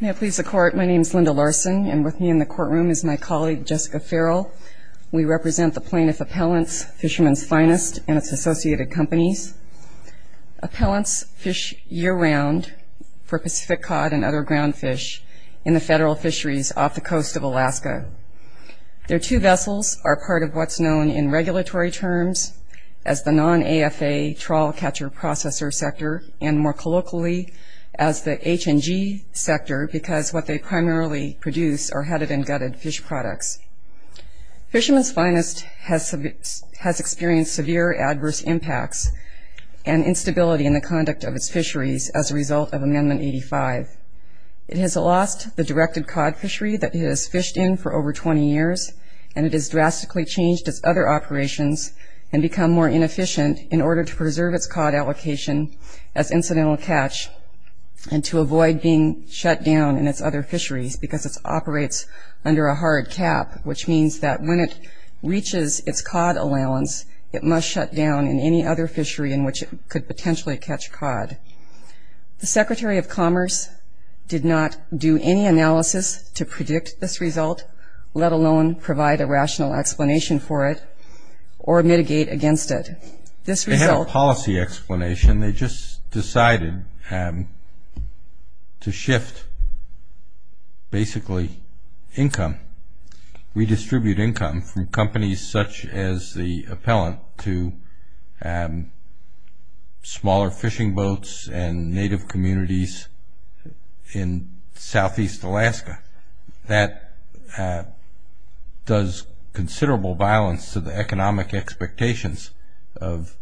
May it please the Court, my name is Linda Larson, and with me in the courtroom is my colleague Jessica Farrell. We represent the plaintiff Appellant's Fishermen's Finest and its associated companies. Appellants fish year-round for Pacific cod and other ground fish in the federal fisheries off the coast of Alaska. Their two vessels are part of what's known in regulatory terms as the non-AFA trawl catcher processor sector, and more colloquially as the HNG sector, because what they primarily produce are headed and gutted fish products. Fishermen's Finest has experienced severe adverse impacts and instability in the conduct of its fisheries as a result of Amendment 85. It has lost the directed cod fishery that it has fished in for over 20 years, and it has drastically changed its other operations and become more inefficient in order to preserve its cod allocation as incidental catch and to avoid being shut down in its other fisheries because it operates under a hard cap, which means that when it reaches its cod allowance, it must shut down in any other fishery in which it could potentially catch cod. The Secretary of Commerce did not do any analysis to predict this result, let alone provide a rational explanation for it or mitigate against it. They had a policy explanation. They just decided to shift basically income, redistribute income from companies such as the Appellant to smaller fishing boats and native communities in southeast Alaska. That does considerable violence to the economic expectations of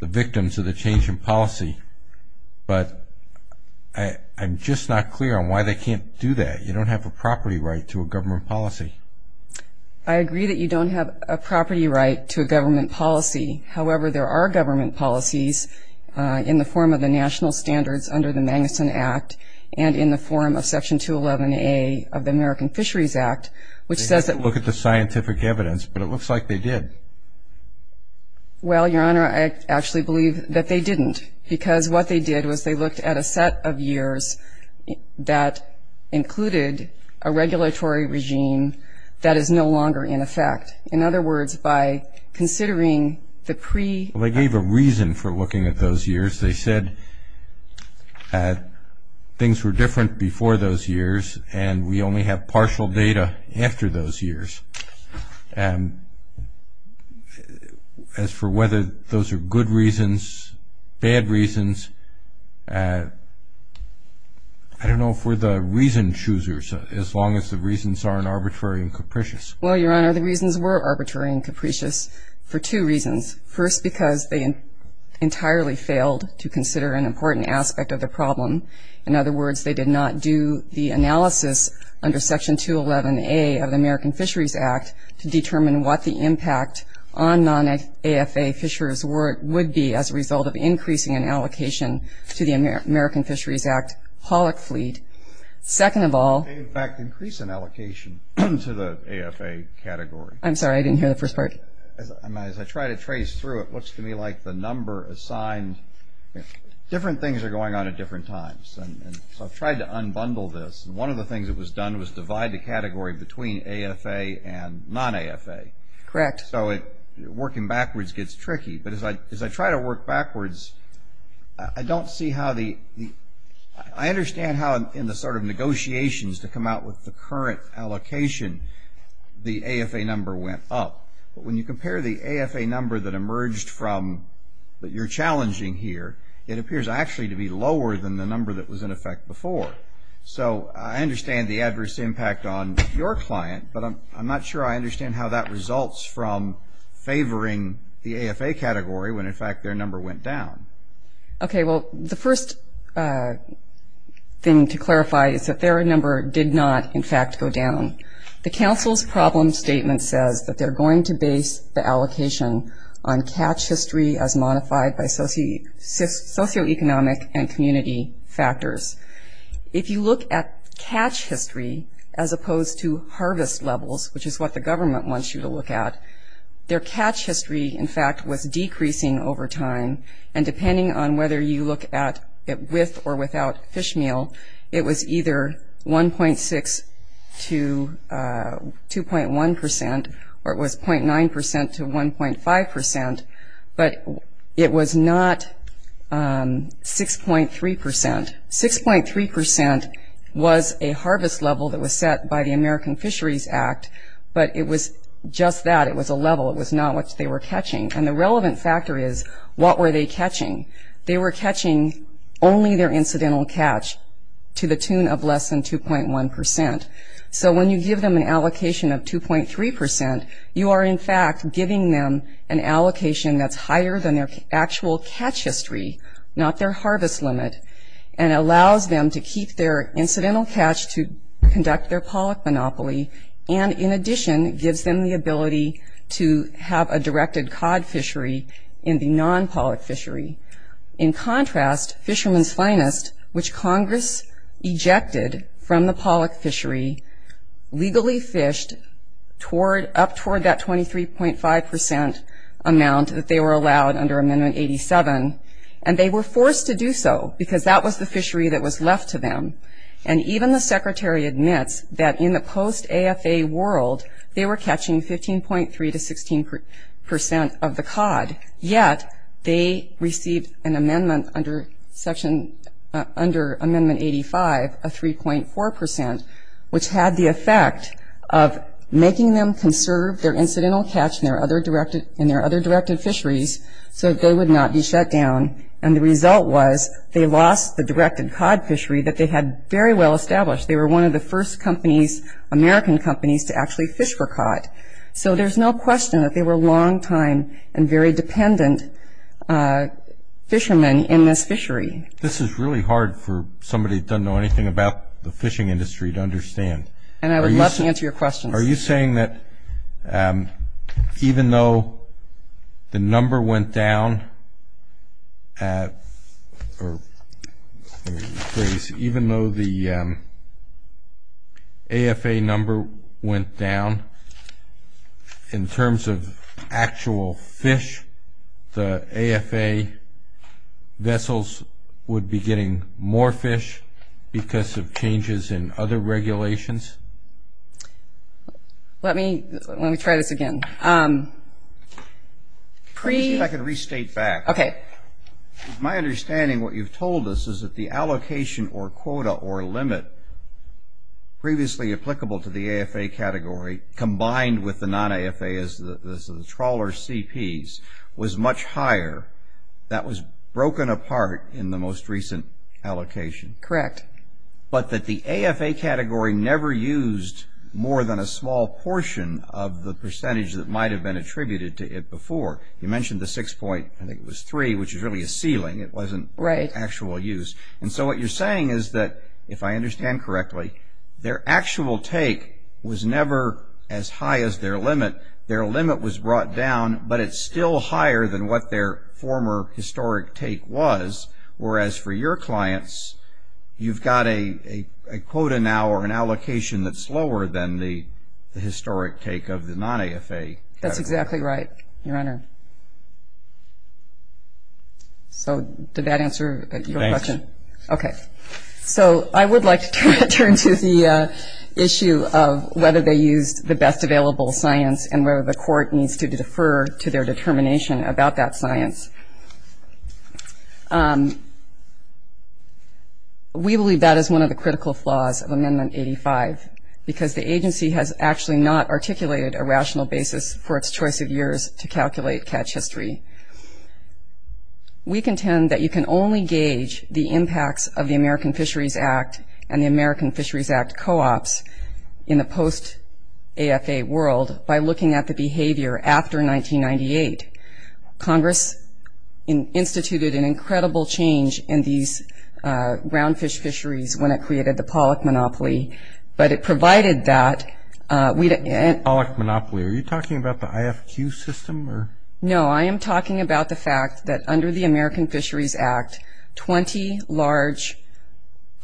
the victims of the change in policy, but I'm just not clear on why they can't do that. You don't have a property right to a government policy. I agree that you don't have a property right to a government policy. However, there are government policies in the form of the National Standards under the Magnuson Act and in the form of Section 211A of the American Fisheries Act, which says that we need to look at the scientific evidence, but it looks like they did. Well, Your Honor, I actually believe that they didn't because what they did was they looked at a set of years that included a regulatory regime that is no longer in effect. In other words, by considering the pre- Well, they gave a reason for looking at those years. They said things were different before those years and we only have partial data after those years. As for whether those are good reasons, bad reasons, I don't know if we're the reason choosers, as long as the reasons aren't arbitrary and capricious. Well, Your Honor, the reasons were arbitrary and capricious for two reasons. First, because they entirely failed to consider an important aspect of the problem. In other words, they did not do the analysis under Section 211A of the American Fisheries Act to determine what the impact on non-AFA fishers would be as a result of increasing an allocation to the American Fisheries Act hauler fleet. Second of all- They, in fact, increased an allocation to the AFA category. I'm sorry, I didn't hear the first part. As I try to trace through it, it looks to me like the number assigned- different things are going on at different times, so I've tried to unbundle this. One of the things that was done was divide the category between AFA and non-AFA. Correct. So working backwards gets tricky. But as I try to work backwards, I don't see how the- I understand how in the sort of negotiations to come out with the current allocation, the AFA number went up. But when you compare the AFA number that emerged from what you're challenging here, it appears actually to be lower than the number that was in effect before. So I understand the adverse impact on your client, but I'm not sure I understand how that results from favoring the AFA category when, in fact, their number went down. Okay. Well, the first thing to clarify is that their number did not, in fact, go down. The council's problem statement says that they're going to base the allocation on catch history as modified by socioeconomic and community factors. If you look at catch history as opposed to harvest levels, which is what the government wants you to look at, their catch history, in fact, was decreasing over time. And depending on whether you look at it with or without fish meal, it was either 1.6% to 2.1%, or it was 0.9% to 1.5%. But it was not 6.3%. 6.3% was a harvest level that was set by the American Fisheries Act, but it was just that. It was a level. It was not what they were catching. And the relevant factor is what were they catching? They were catching only their incidental catch to the tune of less than 2.1%. So when you give them an allocation of 2.3%, you are, in fact, giving them an allocation that's higher than their actual catch history, not their harvest limit, and allows them to keep their incidental catch to conduct their pollock monopoly and, in addition, gives them the ability to have a directed cod fishery in the non-pollock fishery. In contrast, Fisherman's Finest, which Congress ejected from the pollock fishery, legally fished up toward that 23.5% amount that they were allowed under Amendment 87, and they were forced to do so because that was the fishery that was left to them. And even the Secretary admits that in the post-AFA world, they were catching 15.3% to 16% of the cod, and yet they received an amendment under Section, under Amendment 85, a 3.4%, which had the effect of making them conserve their incidental catch in their other directed fisheries so that they would not be shut down. And the result was they lost the directed cod fishery that they had very well established. They were one of the first companies, American companies, to actually fish for cod. So there's no question that they were long-time and very dependent fishermen in this fishery. This is really hard for somebody who doesn't know anything about the fishing industry to understand. And I would love to answer your questions. Are you saying that even though the number went down, or even though the AFA number went down, in terms of actual fish, the AFA vessels would be getting more fish because of changes in other regulations? Let me try this again. Let me see if I can restate that. Okay. My understanding, what you've told us, is that the allocation or quota or limit previously applicable to the AFA category combined with the non-AFA, the trawler CPs, was much higher. That was broken apart in the most recent allocation. Correct. But that the AFA category never used more than a small portion of the percentage that might have been attributed to it before. You mentioned the 6.3%, which is really a ceiling. It wasn't actual use. And so what you're saying is that, if I understand correctly, their actual take was never as high as their limit. Their limit was brought down, but it's still higher than what their former historic take was. Whereas for your clients, you've got a quota now or an allocation that's lower than the historic take of the non-AFA. That's exactly right, Your Honor. So did that answer your question? Thanks. Okay. So I would like to turn to the issue of whether they used the best available science and whether the court needs to defer to their determination about that science. We believe that is one of the critical flaws of Amendment 85, because the agency has actually not articulated a rational basis for its choice of years to calculate catch history. We contend that you can only gauge the impacts of the American Fisheries Act and the American Fisheries Act co-ops in the post-AFA world by looking at the behavior after 1998. Congress instituted an incredible change in these round fish fisheries when it created the Pollock monopoly, but it provided that. Pollock monopoly? Are you talking about the IFQ system? No, I am talking about the fact that under the American Fisheries Act, 20 large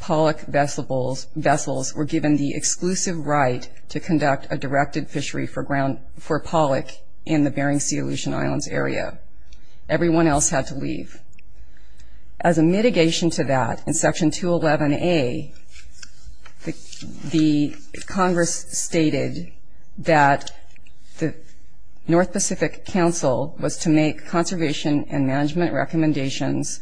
Pollock vessels were given the exclusive right to conduct a directed fishery for Pollock in the Bering Sea Aleutian Islands area. Everyone else had to leave. As a mitigation to that, in Section 211A, the Congress stated that the North Pacific Council was to make conservation and management recommendations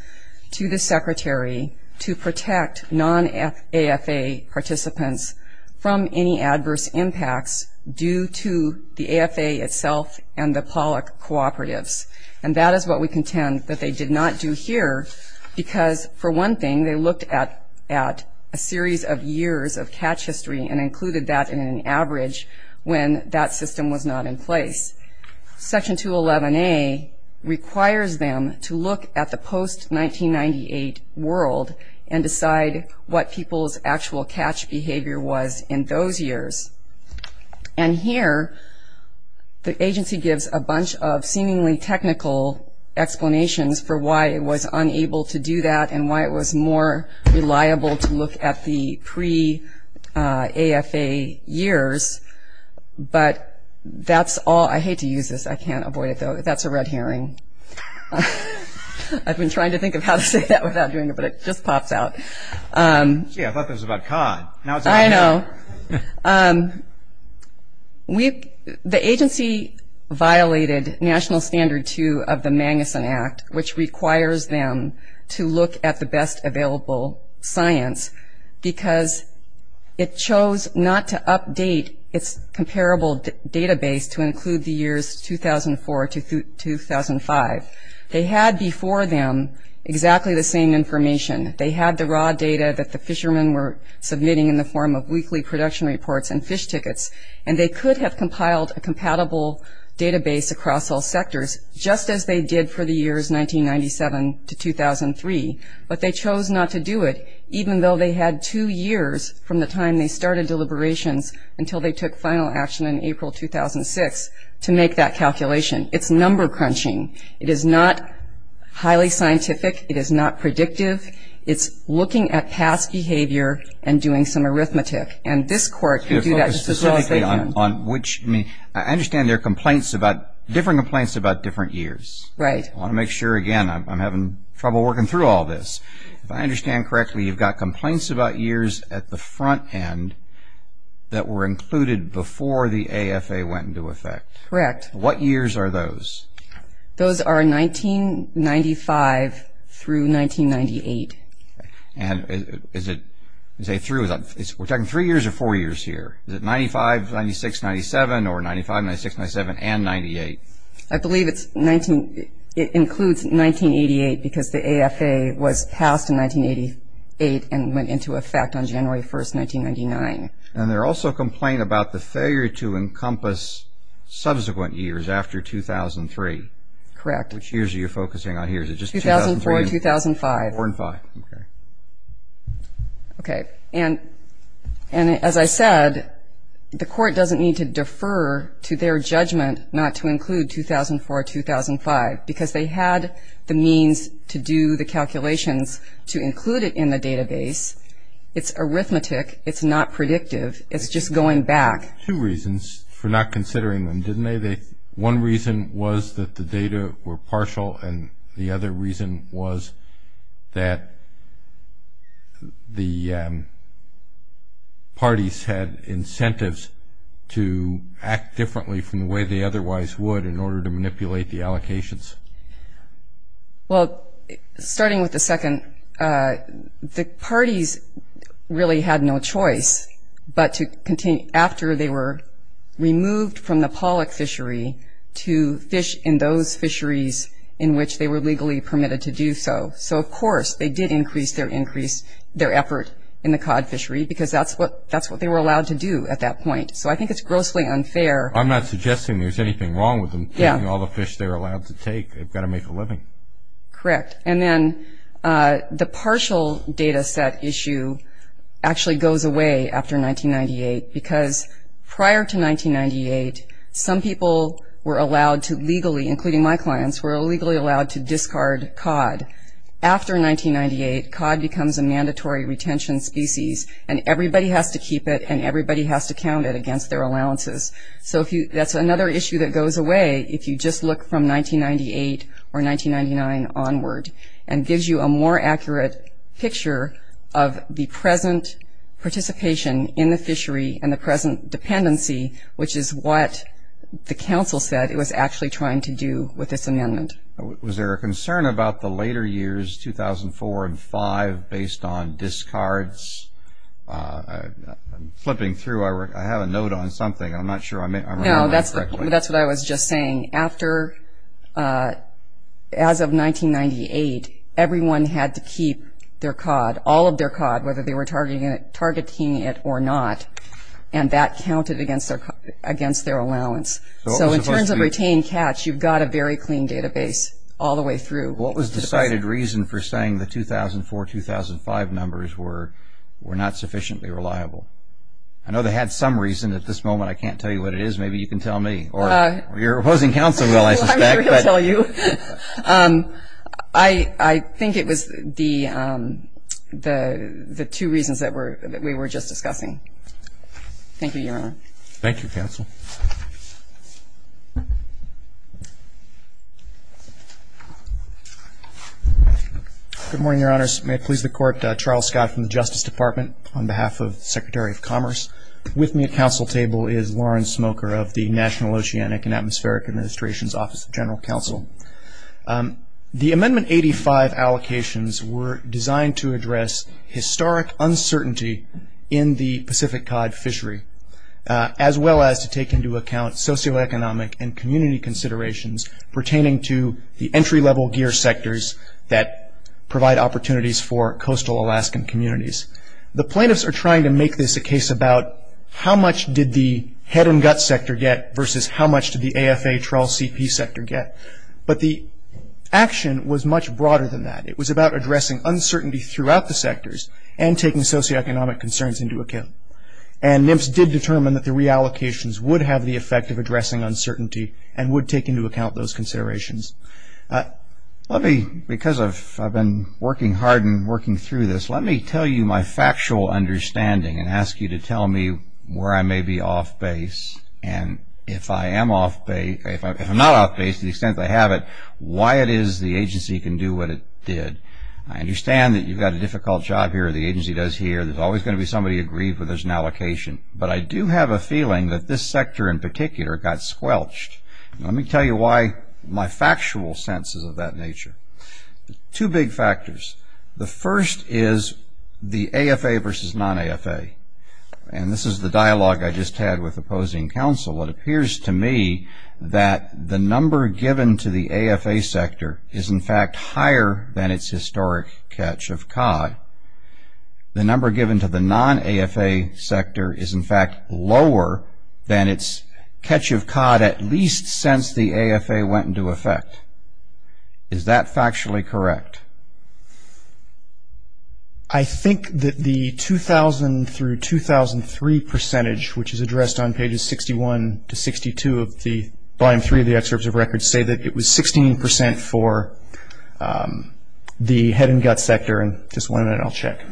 to the Secretary to protect non-AFA participants from any adverse impacts due to the AFA itself and the Pollock cooperatives. And that is what we contend that they did not do here because, for one thing, they looked at a series of years of catch history and included that in an average when that system was not in place. Section 211A requires them to look at the post-1998 world and decide what people's actual catch behavior was in those years. And here, the agency gives a bunch of seemingly technical explanations for why it was unable to do that and why it was more reliable to look at the pre-AFA years. But that's all. I hate to use this. I can't avoid it, though. That's a red herring. I've been trying to think of how to say that without doing it, but it just pops out. Gee, I thought that was about cod. I know. The agency violated National Standard 2 of the Magnuson Act, which requires them to look at the best available science because it chose not to update its comparable database to include the years 2004 to 2005. They had before them exactly the same information. They had the raw data that the fishermen were submitting in the form of weekly production reports and fish tickets, and they could have compiled a compatible database across all sectors, just as they did for the years 1997 to 2003. But they chose not to do it, even though they had two years from the time they started deliberations until they took final action in April 2006 to make that calculation. It's number crunching. It is not highly scientific. It is not predictive. It's looking at past behavior and doing some arithmetic, and this Court can do that just as well as they can. I understand there are different complaints about different years. Right. I want to make sure, again, I'm having trouble working through all this. If I understand correctly, you've got complaints about years at the front end that were included before the AFA went into effect. Correct. What years are those? Those are 1995 through 1998. And is it through? We're talking three years or four years here? Is it 95, 96, 97, or 95, 96, 97, and 98? I believe it includes 1988 because the AFA was passed in 1988 and went into effect on January 1, 1999. And there's also a complaint about the failure to encompass subsequent years after 2003. Correct. Which years are you focusing on here? Is it just 2003 or 2005? 2004 and 2005. Okay. And as I said, the Court doesn't need to defer to their judgment not to include 2004 or 2005 because they had the means to do the calculations to include it in the database. It's arithmetic. It's not predictive. It's just going back. Two reasons for not considering them, didn't they? One reason was that the data were partial, and the other reason was that the parties had incentives to act differently from the way they otherwise would in order to manipulate the allocations. Well, starting with the second, the parties really had no choice but to continue after they were removed from the pollock fishery to fish in those fisheries in which they were legally permitted to do so. So, of course, they did increase their effort in the cod fishery because that's what they were allowed to do at that point. So I think it's grossly unfair. I'm not suggesting there's anything wrong with them getting all the fish they were allowed to take. They've got to make a living. Correct. And then the partial data set issue actually goes away after 1998 because prior to 1998, some people were allowed to legally, including my clients, were legally allowed to discard cod. After 1998, cod becomes a mandatory retention species, and everybody has to keep it, and everybody has to count it against their allowances. So that's another issue that goes away if you just look from 1998 or 1999 onward and gives you a more accurate picture of the present participation in the fishery and the present dependency, which is what the council said it was actually trying to do with this amendment. Was there a concern about the later years, 2004 and 2005, based on discards? I'm flipping through. I have a note on something. I'm not sure I'm reading that correctly. No, that's what I was just saying. As of 1998, everyone had to keep their cod, all of their cod, whether they were targeting it or not, and that counted against their allowance. So in terms of retained catch, you've got a very clean database all the way through. What was the cited reason for saying the 2004-2005 numbers were not sufficiently reliable? I know they had some reason. At this moment, I can't tell you what it is. Maybe you can tell me, or your opposing counsel will, I suspect. I'm sure he'll tell you. I think it was the two reasons that we were just discussing. Thank you, Your Honor. Thank you, counsel. Good morning, Your Honors. May it please the Court, Charles Scott from the Justice Department on behalf of the Secretary of Commerce. With me at counsel table is Lawrence Smoker of the National Oceanic and Atmospheric Administration's Office of General Counsel. The Amendment 85 allocations were designed to address historic uncertainty in the Pacific cod fishery, as well as to take into account socioeconomic and community considerations pertaining to the entry-level gear sectors that provide opportunities for coastal Alaskan communities. The plaintiffs are trying to make this a case about how much did the head and gut sector get versus how much did the AFA-TRAL-CP sector get. But the action was much broader than that. It was about addressing uncertainty throughout the sectors and taking socioeconomic concerns into account. And NIPS did determine that the reallocations would have the effect of addressing uncertainty and would take into account those considerations. Because I've been working hard and working through this, let me tell you my factual understanding and ask you to tell me where I may be off base. And if I am off base, if I'm not off base to the extent that I have it, why it is the agency can do what it did. I understand that you've got a difficult job here, the agency does here, there's always going to be somebody aggrieved when there's an allocation. But I do have a feeling that this sector in particular got squelched. Let me tell you why my factual sense is of that nature. Two big factors. The first is the AFA versus non-AFA. And this is the dialogue I just had with opposing counsel. It appears to me that the number given to the AFA sector is, in fact, higher than its historic catch of COD. The number given to the non-AFA sector is, in fact, lower than its catch of COD at least since the AFA went into effect. Is that factually correct? I think that the 2000 through 2003 percentage, which is addressed on pages 61 to 62 of the volume three of the excerpts of records, say that it was 16% for the head and gut sector. And just one minute, I'll check.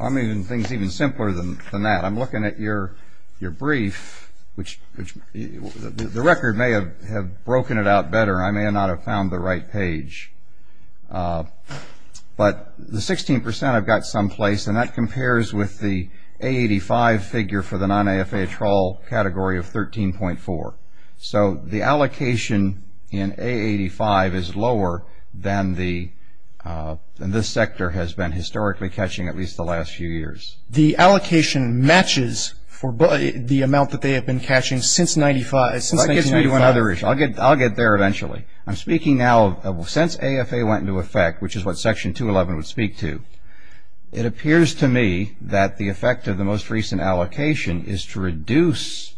I mean, the thing is even simpler than that. I'm looking at your brief, which the record may have broken it out better. I may not have found the right page. But the 16% I've got someplace, and that compares with the A85 figure for the non-AFA trawl category of 13.4. So the allocation in A85 is lower than this sector has been historically catching at least the last few years. The allocation matches the amount that they have been catching since 1995. Well, that gets me to another issue. I'll get there eventually. I'm speaking now of since AFA went into effect, which is what Section 211 would speak to. It appears to me that the effect of the most recent allocation is to reduce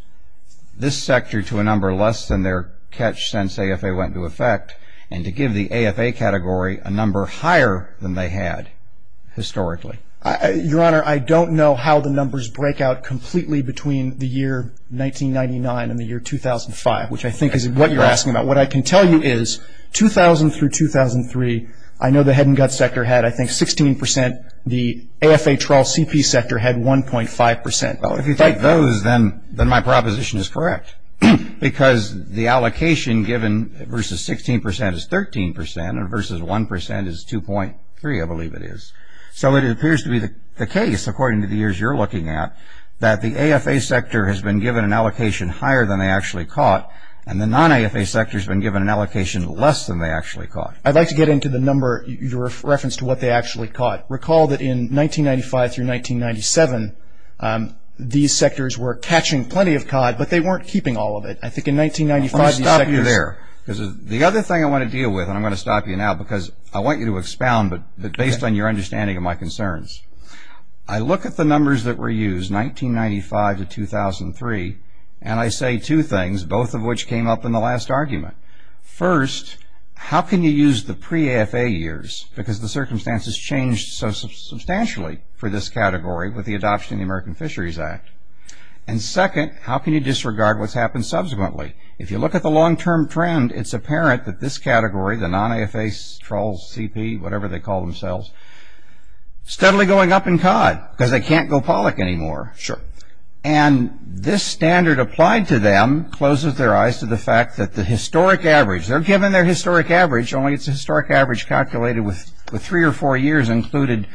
this sector to a number less than their catch since AFA went into effect and to give the AFA category a number higher than they had historically. Your Honor, I don't know how the numbers break out completely between the year 1999 and the year 2005, which I think is what you're asking about. What I can tell you is 2000 through 2003, I know the head and gut sector had, I think, 16%. The AFA trawl CP sector had 1.5%. Well, if you take those, then my proposition is correct, because the allocation given versus 16% is 13% and versus 1% is 2.3, I believe it is. So it appears to be the case, according to the years you're looking at, that the AFA sector has been given an allocation higher than they actually caught, and the non-AFA sector has been given an allocation less than they actually caught. I'd like to get into the number, your reference to what they actually caught. Recall that in 1995 through 1997, these sectors were catching plenty of cod, but they weren't keeping all of it. I think in 1995, these sectors... Let me stop you there, because the other thing I want to deal with, and I'm going to stop you now, because I want you to expound, but based on your understanding of my concerns. I look at the numbers that were used, 1995 to 2003, and I say two things, both of which came up in the last argument. First, how can you use the pre-AFA years, because the circumstances changed so substantially for this category with the adoption of the American Fisheries Act? And second, how can you disregard what's happened subsequently? If you look at the long-term trend, it's apparent that this category, the non-AFA trolls, CP, whatever they call themselves, steadily going up in cod, because they can't go pollock anymore. Sure. And this standard applied to them closes their eyes to the fact that the historic average, they're given their historic average, only it's a historic average calculated with three or four years included,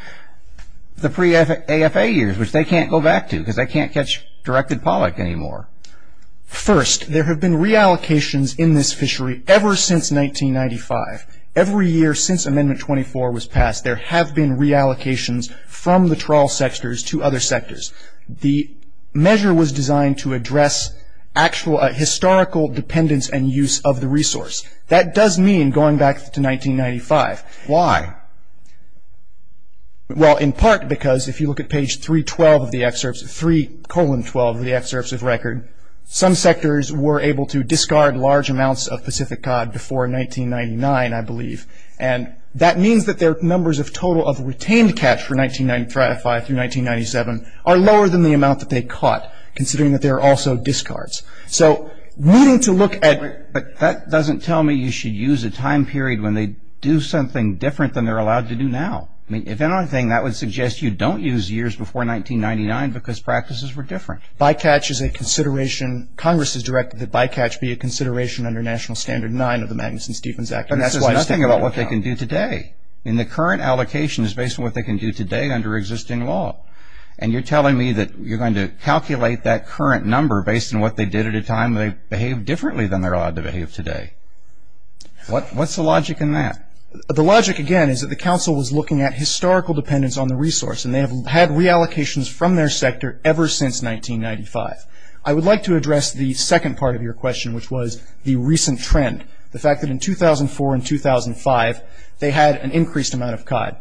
the pre-AFA years, which they can't go back to, because they can't catch directed pollock anymore. First, there have been reallocations in this fishery ever since 1995. Every year since Amendment 24 was passed, there have been reallocations from the trawl sectors to other sectors. The measure was designed to address actual historical dependence and use of the resource. That does mean going back to 1995. Why? Well, in part because if you look at page 312 of the excerpts, 3 colon 12 of the excerpts of record, some sectors were able to discard large amounts of Pacific cod before 1999, I believe. And that means that their numbers of total of retained catch for 1995 through 1997 are lower than the amount that they caught, considering that there are also discards. So needing to look at... But that doesn't tell me you should use a time period when they do something different than they're allowed to do now. I mean, if anything, that would suggest you don't use years before 1999 because practices were different. Bycatch is a consideration. Congress has directed that bycatch be a consideration under National Standard 9 of the Magnuson-Stevens Act. But that says nothing about what they can do today. I mean, the current allocation is based on what they can do today under existing law. And you're telling me that you're going to calculate that current number based on what they did at a time they behaved differently than they're allowed to behave today. What's the logic in that? The logic, again, is that the Council was looking at historical dependence on the resource, and they have had reallocations from their sector ever since 1995. I would like to address the second part of your question, which was the recent trend, the fact that in 2004 and 2005 they had an increased amount of cod.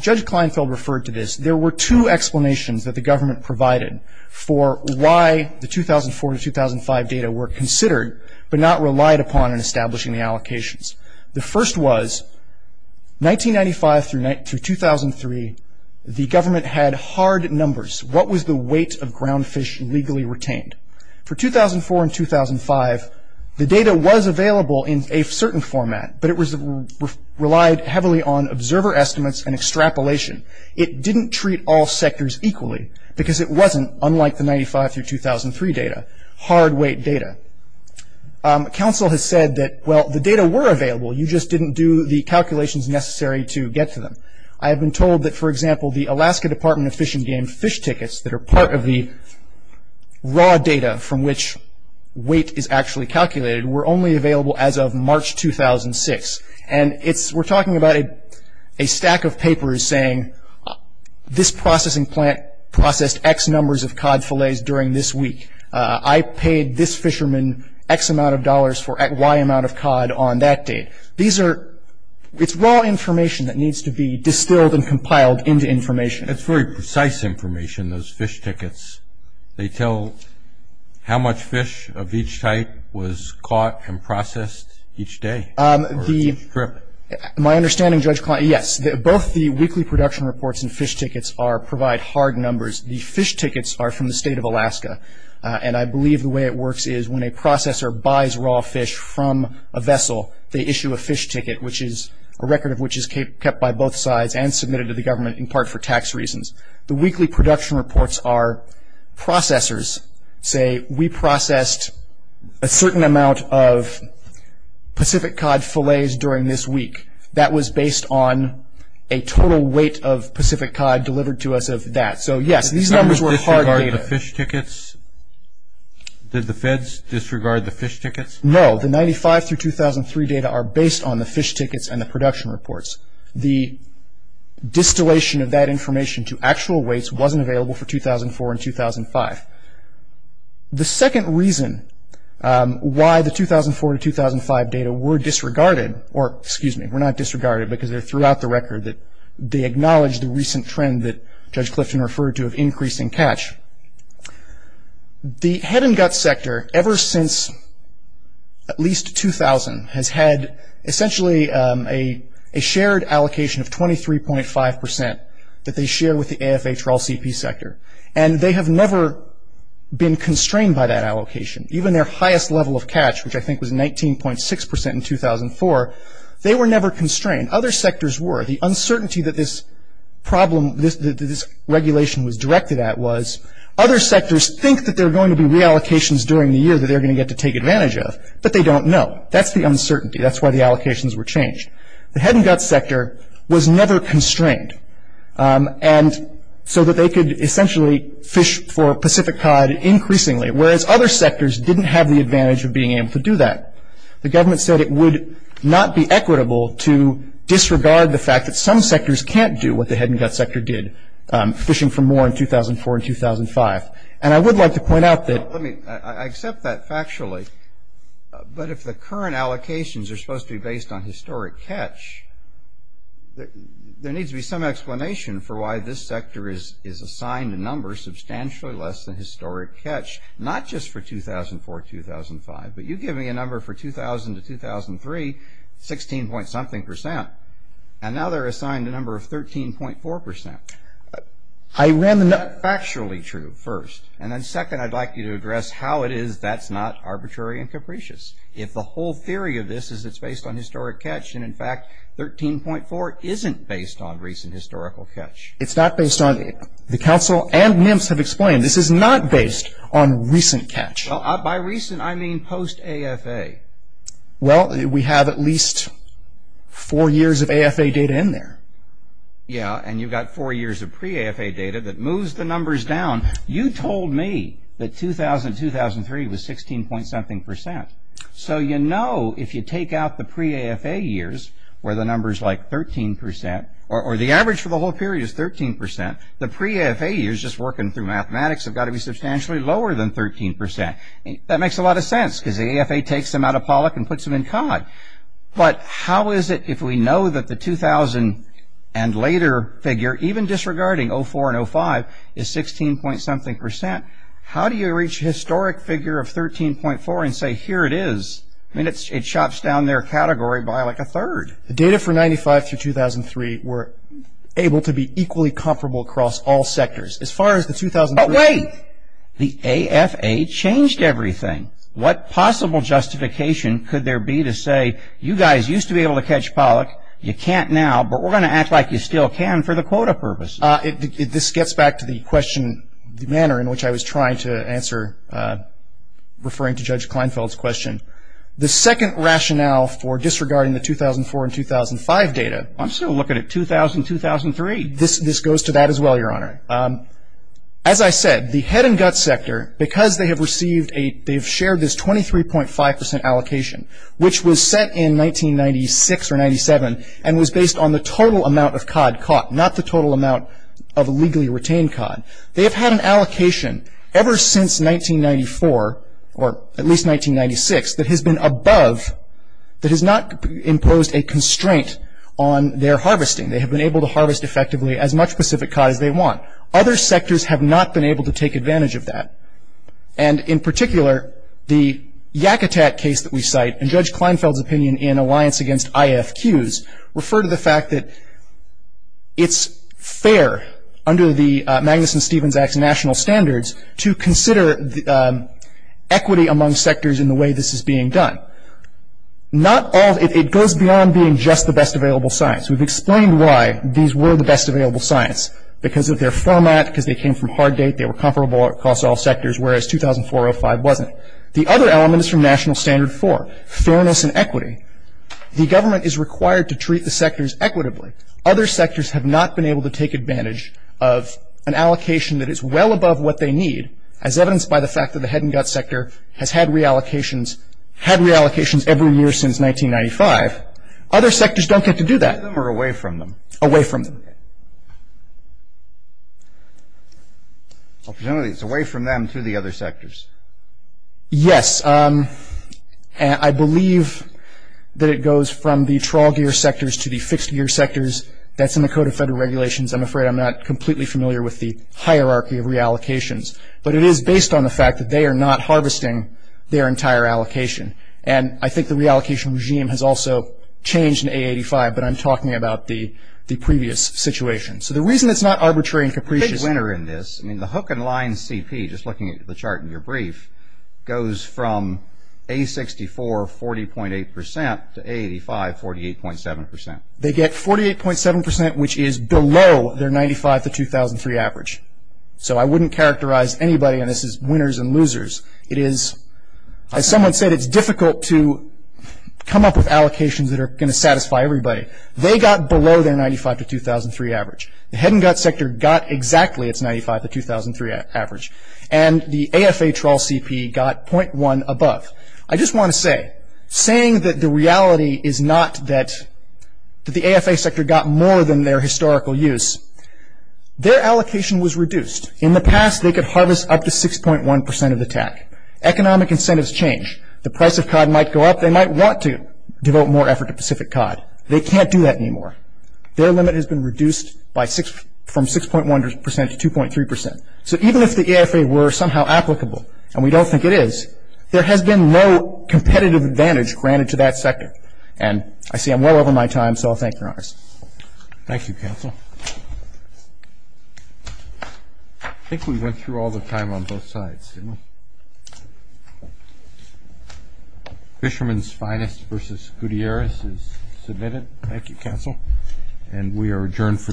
Judge Kleinfeld referred to this. There were two explanations that the government provided for why the 2004 to 2005 data were considered but not relied upon in establishing the allocations. The first was, 1995 through 2003, the government had hard numbers. What was the weight of ground fish legally retained? For 2004 and 2005, the data was available in a certain format, but it relied heavily on observer estimates and extrapolation. It didn't treat all sectors equally, because it wasn't, unlike the 1995 through 2003 data, hard weight data. Council has said that, well, the data were available, you just didn't do the calculations necessary to get to them. I have been told that, for example, the Alaska Department of Fish and Game fish tickets that are part of the raw data from which weight is actually calculated were only available as of March 2006. We're talking about a stack of papers saying, this processing plant processed X numbers of cod fillets during this week. I paid this fisherman X amount of dollars for Y amount of cod on that date. It's raw information that needs to be distilled and compiled into information. That's very precise information, those fish tickets. They tell how much fish of each type was caught and processed each day. My understanding, Judge Klein, yes, both the weekly production reports and fish tickets provide hard numbers. The fish tickets are from the state of Alaska, and I believe the way it works is when a processor buys raw fish from a vessel, they issue a fish ticket, a record of which is kept by both sides and submitted to the government in part for tax reasons. The weekly production reports are processors say, we processed a certain amount of Pacific cod fillets during this week. That was based on a total weight of Pacific cod delivered to us of that. So, yes, these numbers were hard data. Did the feds disregard the fish tickets? No. The 95 through 2003 data are based on the fish tickets and the production reports. The distillation of that information to actual weights wasn't available for 2004 and 2005. The second reason why the 2004 to 2005 data were disregarded, or excuse me, were not disregarded because they're throughout the record, they acknowledge the recent trend that Judge Clifton referred to of increasing catch. The head and gut sector, ever since at least 2000, has had essentially a shared allocation of 23.5 percent that they share with the AFH raw CP sector. And they have never been constrained by that allocation. Even their highest level of catch, which I think was 19.6 percent in 2004, they were never constrained. Other sectors were. The uncertainty that this problem, that this regulation was directed at was, other sectors think that there are going to be reallocations during the year that they're going to get to take advantage of, but they don't know. That's the uncertainty. That's why the allocations were changed. The head and gut sector was never constrained. And so that they could essentially fish for Pacific cod increasingly, whereas other sectors didn't have the advantage of being able to do that. The government said it would not be equitable to disregard the fact that some sectors can't do what the head and gut sector did, fishing for more in 2004 and 2005. And I would like to point out that. I accept that factually. But if the current allocations are supposed to be based on historic catch, there needs to be some explanation for why this sector is assigned a number substantially less than historic catch, not just for 2004, 2005, but you give me a number for 2000 to 2003, 16 point something percent, and now they're assigned a number of 13.4 percent. I ran the numbers. That's factually true, first. And then second, I'd like you to address how it is that's not arbitrary and capricious. If the whole theory of this is it's based on historic catch, and in fact 13.4 isn't based on recent historical catch. It's not based on it. The council and NIMS have explained this is not based on recent catch. By recent, I mean post-AFA. Well, we have at least four years of AFA data in there. Yeah, and you've got four years of pre-AFA data that moves the numbers down. You told me that 2000, 2003 was 16 point something percent. So you know if you take out the pre-AFA years where the number is like 13 percent, or the average for the whole period is 13 percent, the pre-AFA years just working through mathematics have got to be substantially lower than 13 percent. That makes a lot of sense because the AFA takes them out of Pollock and puts them in Codd. But how is it if we know that the 2000 and later figure, even disregarding 04 and 05, is 16 point something percent, how do you reach historic figure of 13.4 and say here it is? I mean it chops down their category by like a third. The data for 95 through 2003 were able to be equally comparable across all sectors. As far as the 2003. But wait. The AFA changed everything. What possible justification could there be to say you guys used to be able to catch Pollock. You can't now. But we're going to act like you still can for the quota purpose. This gets back to the question, the manner in which I was trying to answer referring to Judge Kleinfeld's question. The second rationale for disregarding the 2004 and 2005 data. I'm still looking at 2000, 2003. This goes to that as well, Your Honor. As I said, the head and gut sector, because they have shared this 23.5 percent allocation, which was set in 1996 or 97 and was based on the total amount of Codd caught, not the total amount of legally retained Codd. They have had an allocation ever since 1994 or at least 1996 that has been above, that has not imposed a constraint on their harvesting. They have been able to harvest effectively as much Pacific Codd as they want. Other sectors have not been able to take advantage of that. And in particular, the Yakitat case that we cite and Judge Kleinfeld's opinion in Alliance Against IFQs refer to the fact that it's fair under the Magnuson-Stevens Act's national standards to consider equity among sectors in the way this is being done. It goes beyond being just the best available science. We've explained why these were the best available science, because of their format, because they came from hard date, they were comparable across all sectors, whereas 2004-05 wasn't. The other element is from National Standard 4, fairness and equity. The government is required to treat the sectors equitably. Other sectors have not been able to take advantage of an allocation that is well above what they need, as evidenced by the fact that the head and gut sector has had reallocations, had reallocations every year since 1995. Other sectors don't get to do that. Away from them or away from them? Away from them. Okay. Opportunities away from them to the other sectors. Yes. I believe that it goes from the trawl gear sectors to the fixed gear sectors. That's in the Code of Federal Regulations. I'm afraid I'm not completely familiar with the hierarchy of reallocations. But it is based on the fact that they are not harvesting their entire allocation. And I think the reallocation regime has also changed in A85, but I'm talking about the previous situation. So the reason it's not arbitrary and capricious. The big winner in this, I mean, the hook and line CP, just looking at the chart in your brief, goes from A64, 40.8 percent, to A85, 48.7 percent. They get 48.7 percent, which is below their 1995-2003 average. So I wouldn't characterize anybody on this as winners and losers. It is, as someone said, it's difficult to come up with allocations that are going to satisfy everybody. They got below their 1995-2003 average. The head and gut sector got exactly its 1995-2003 average. And the AFA trawl CP got .1 above. I just want to say, saying that the reality is not that the AFA sector got more than their historical use, their allocation was reduced. In the past, they could harvest up to 6.1 percent of the TAC. Economic incentives change. The price of COD might go up. They might want to devote more effort to Pacific COD. They can't do that anymore. Their limit has been reduced from 6.1 percent to 2.3 percent. So even if the AFA were somehow applicable, and we don't think it is, there has been no competitive advantage granted to that sector. And I see I'm well over my time, so I'll thank Your Honor. Thank you, counsel. I think we went through all the time on both sides, didn't we? Fisherman's finest versus Gutierrez is submitted. Thank you, counsel. And we are adjourned for the morning.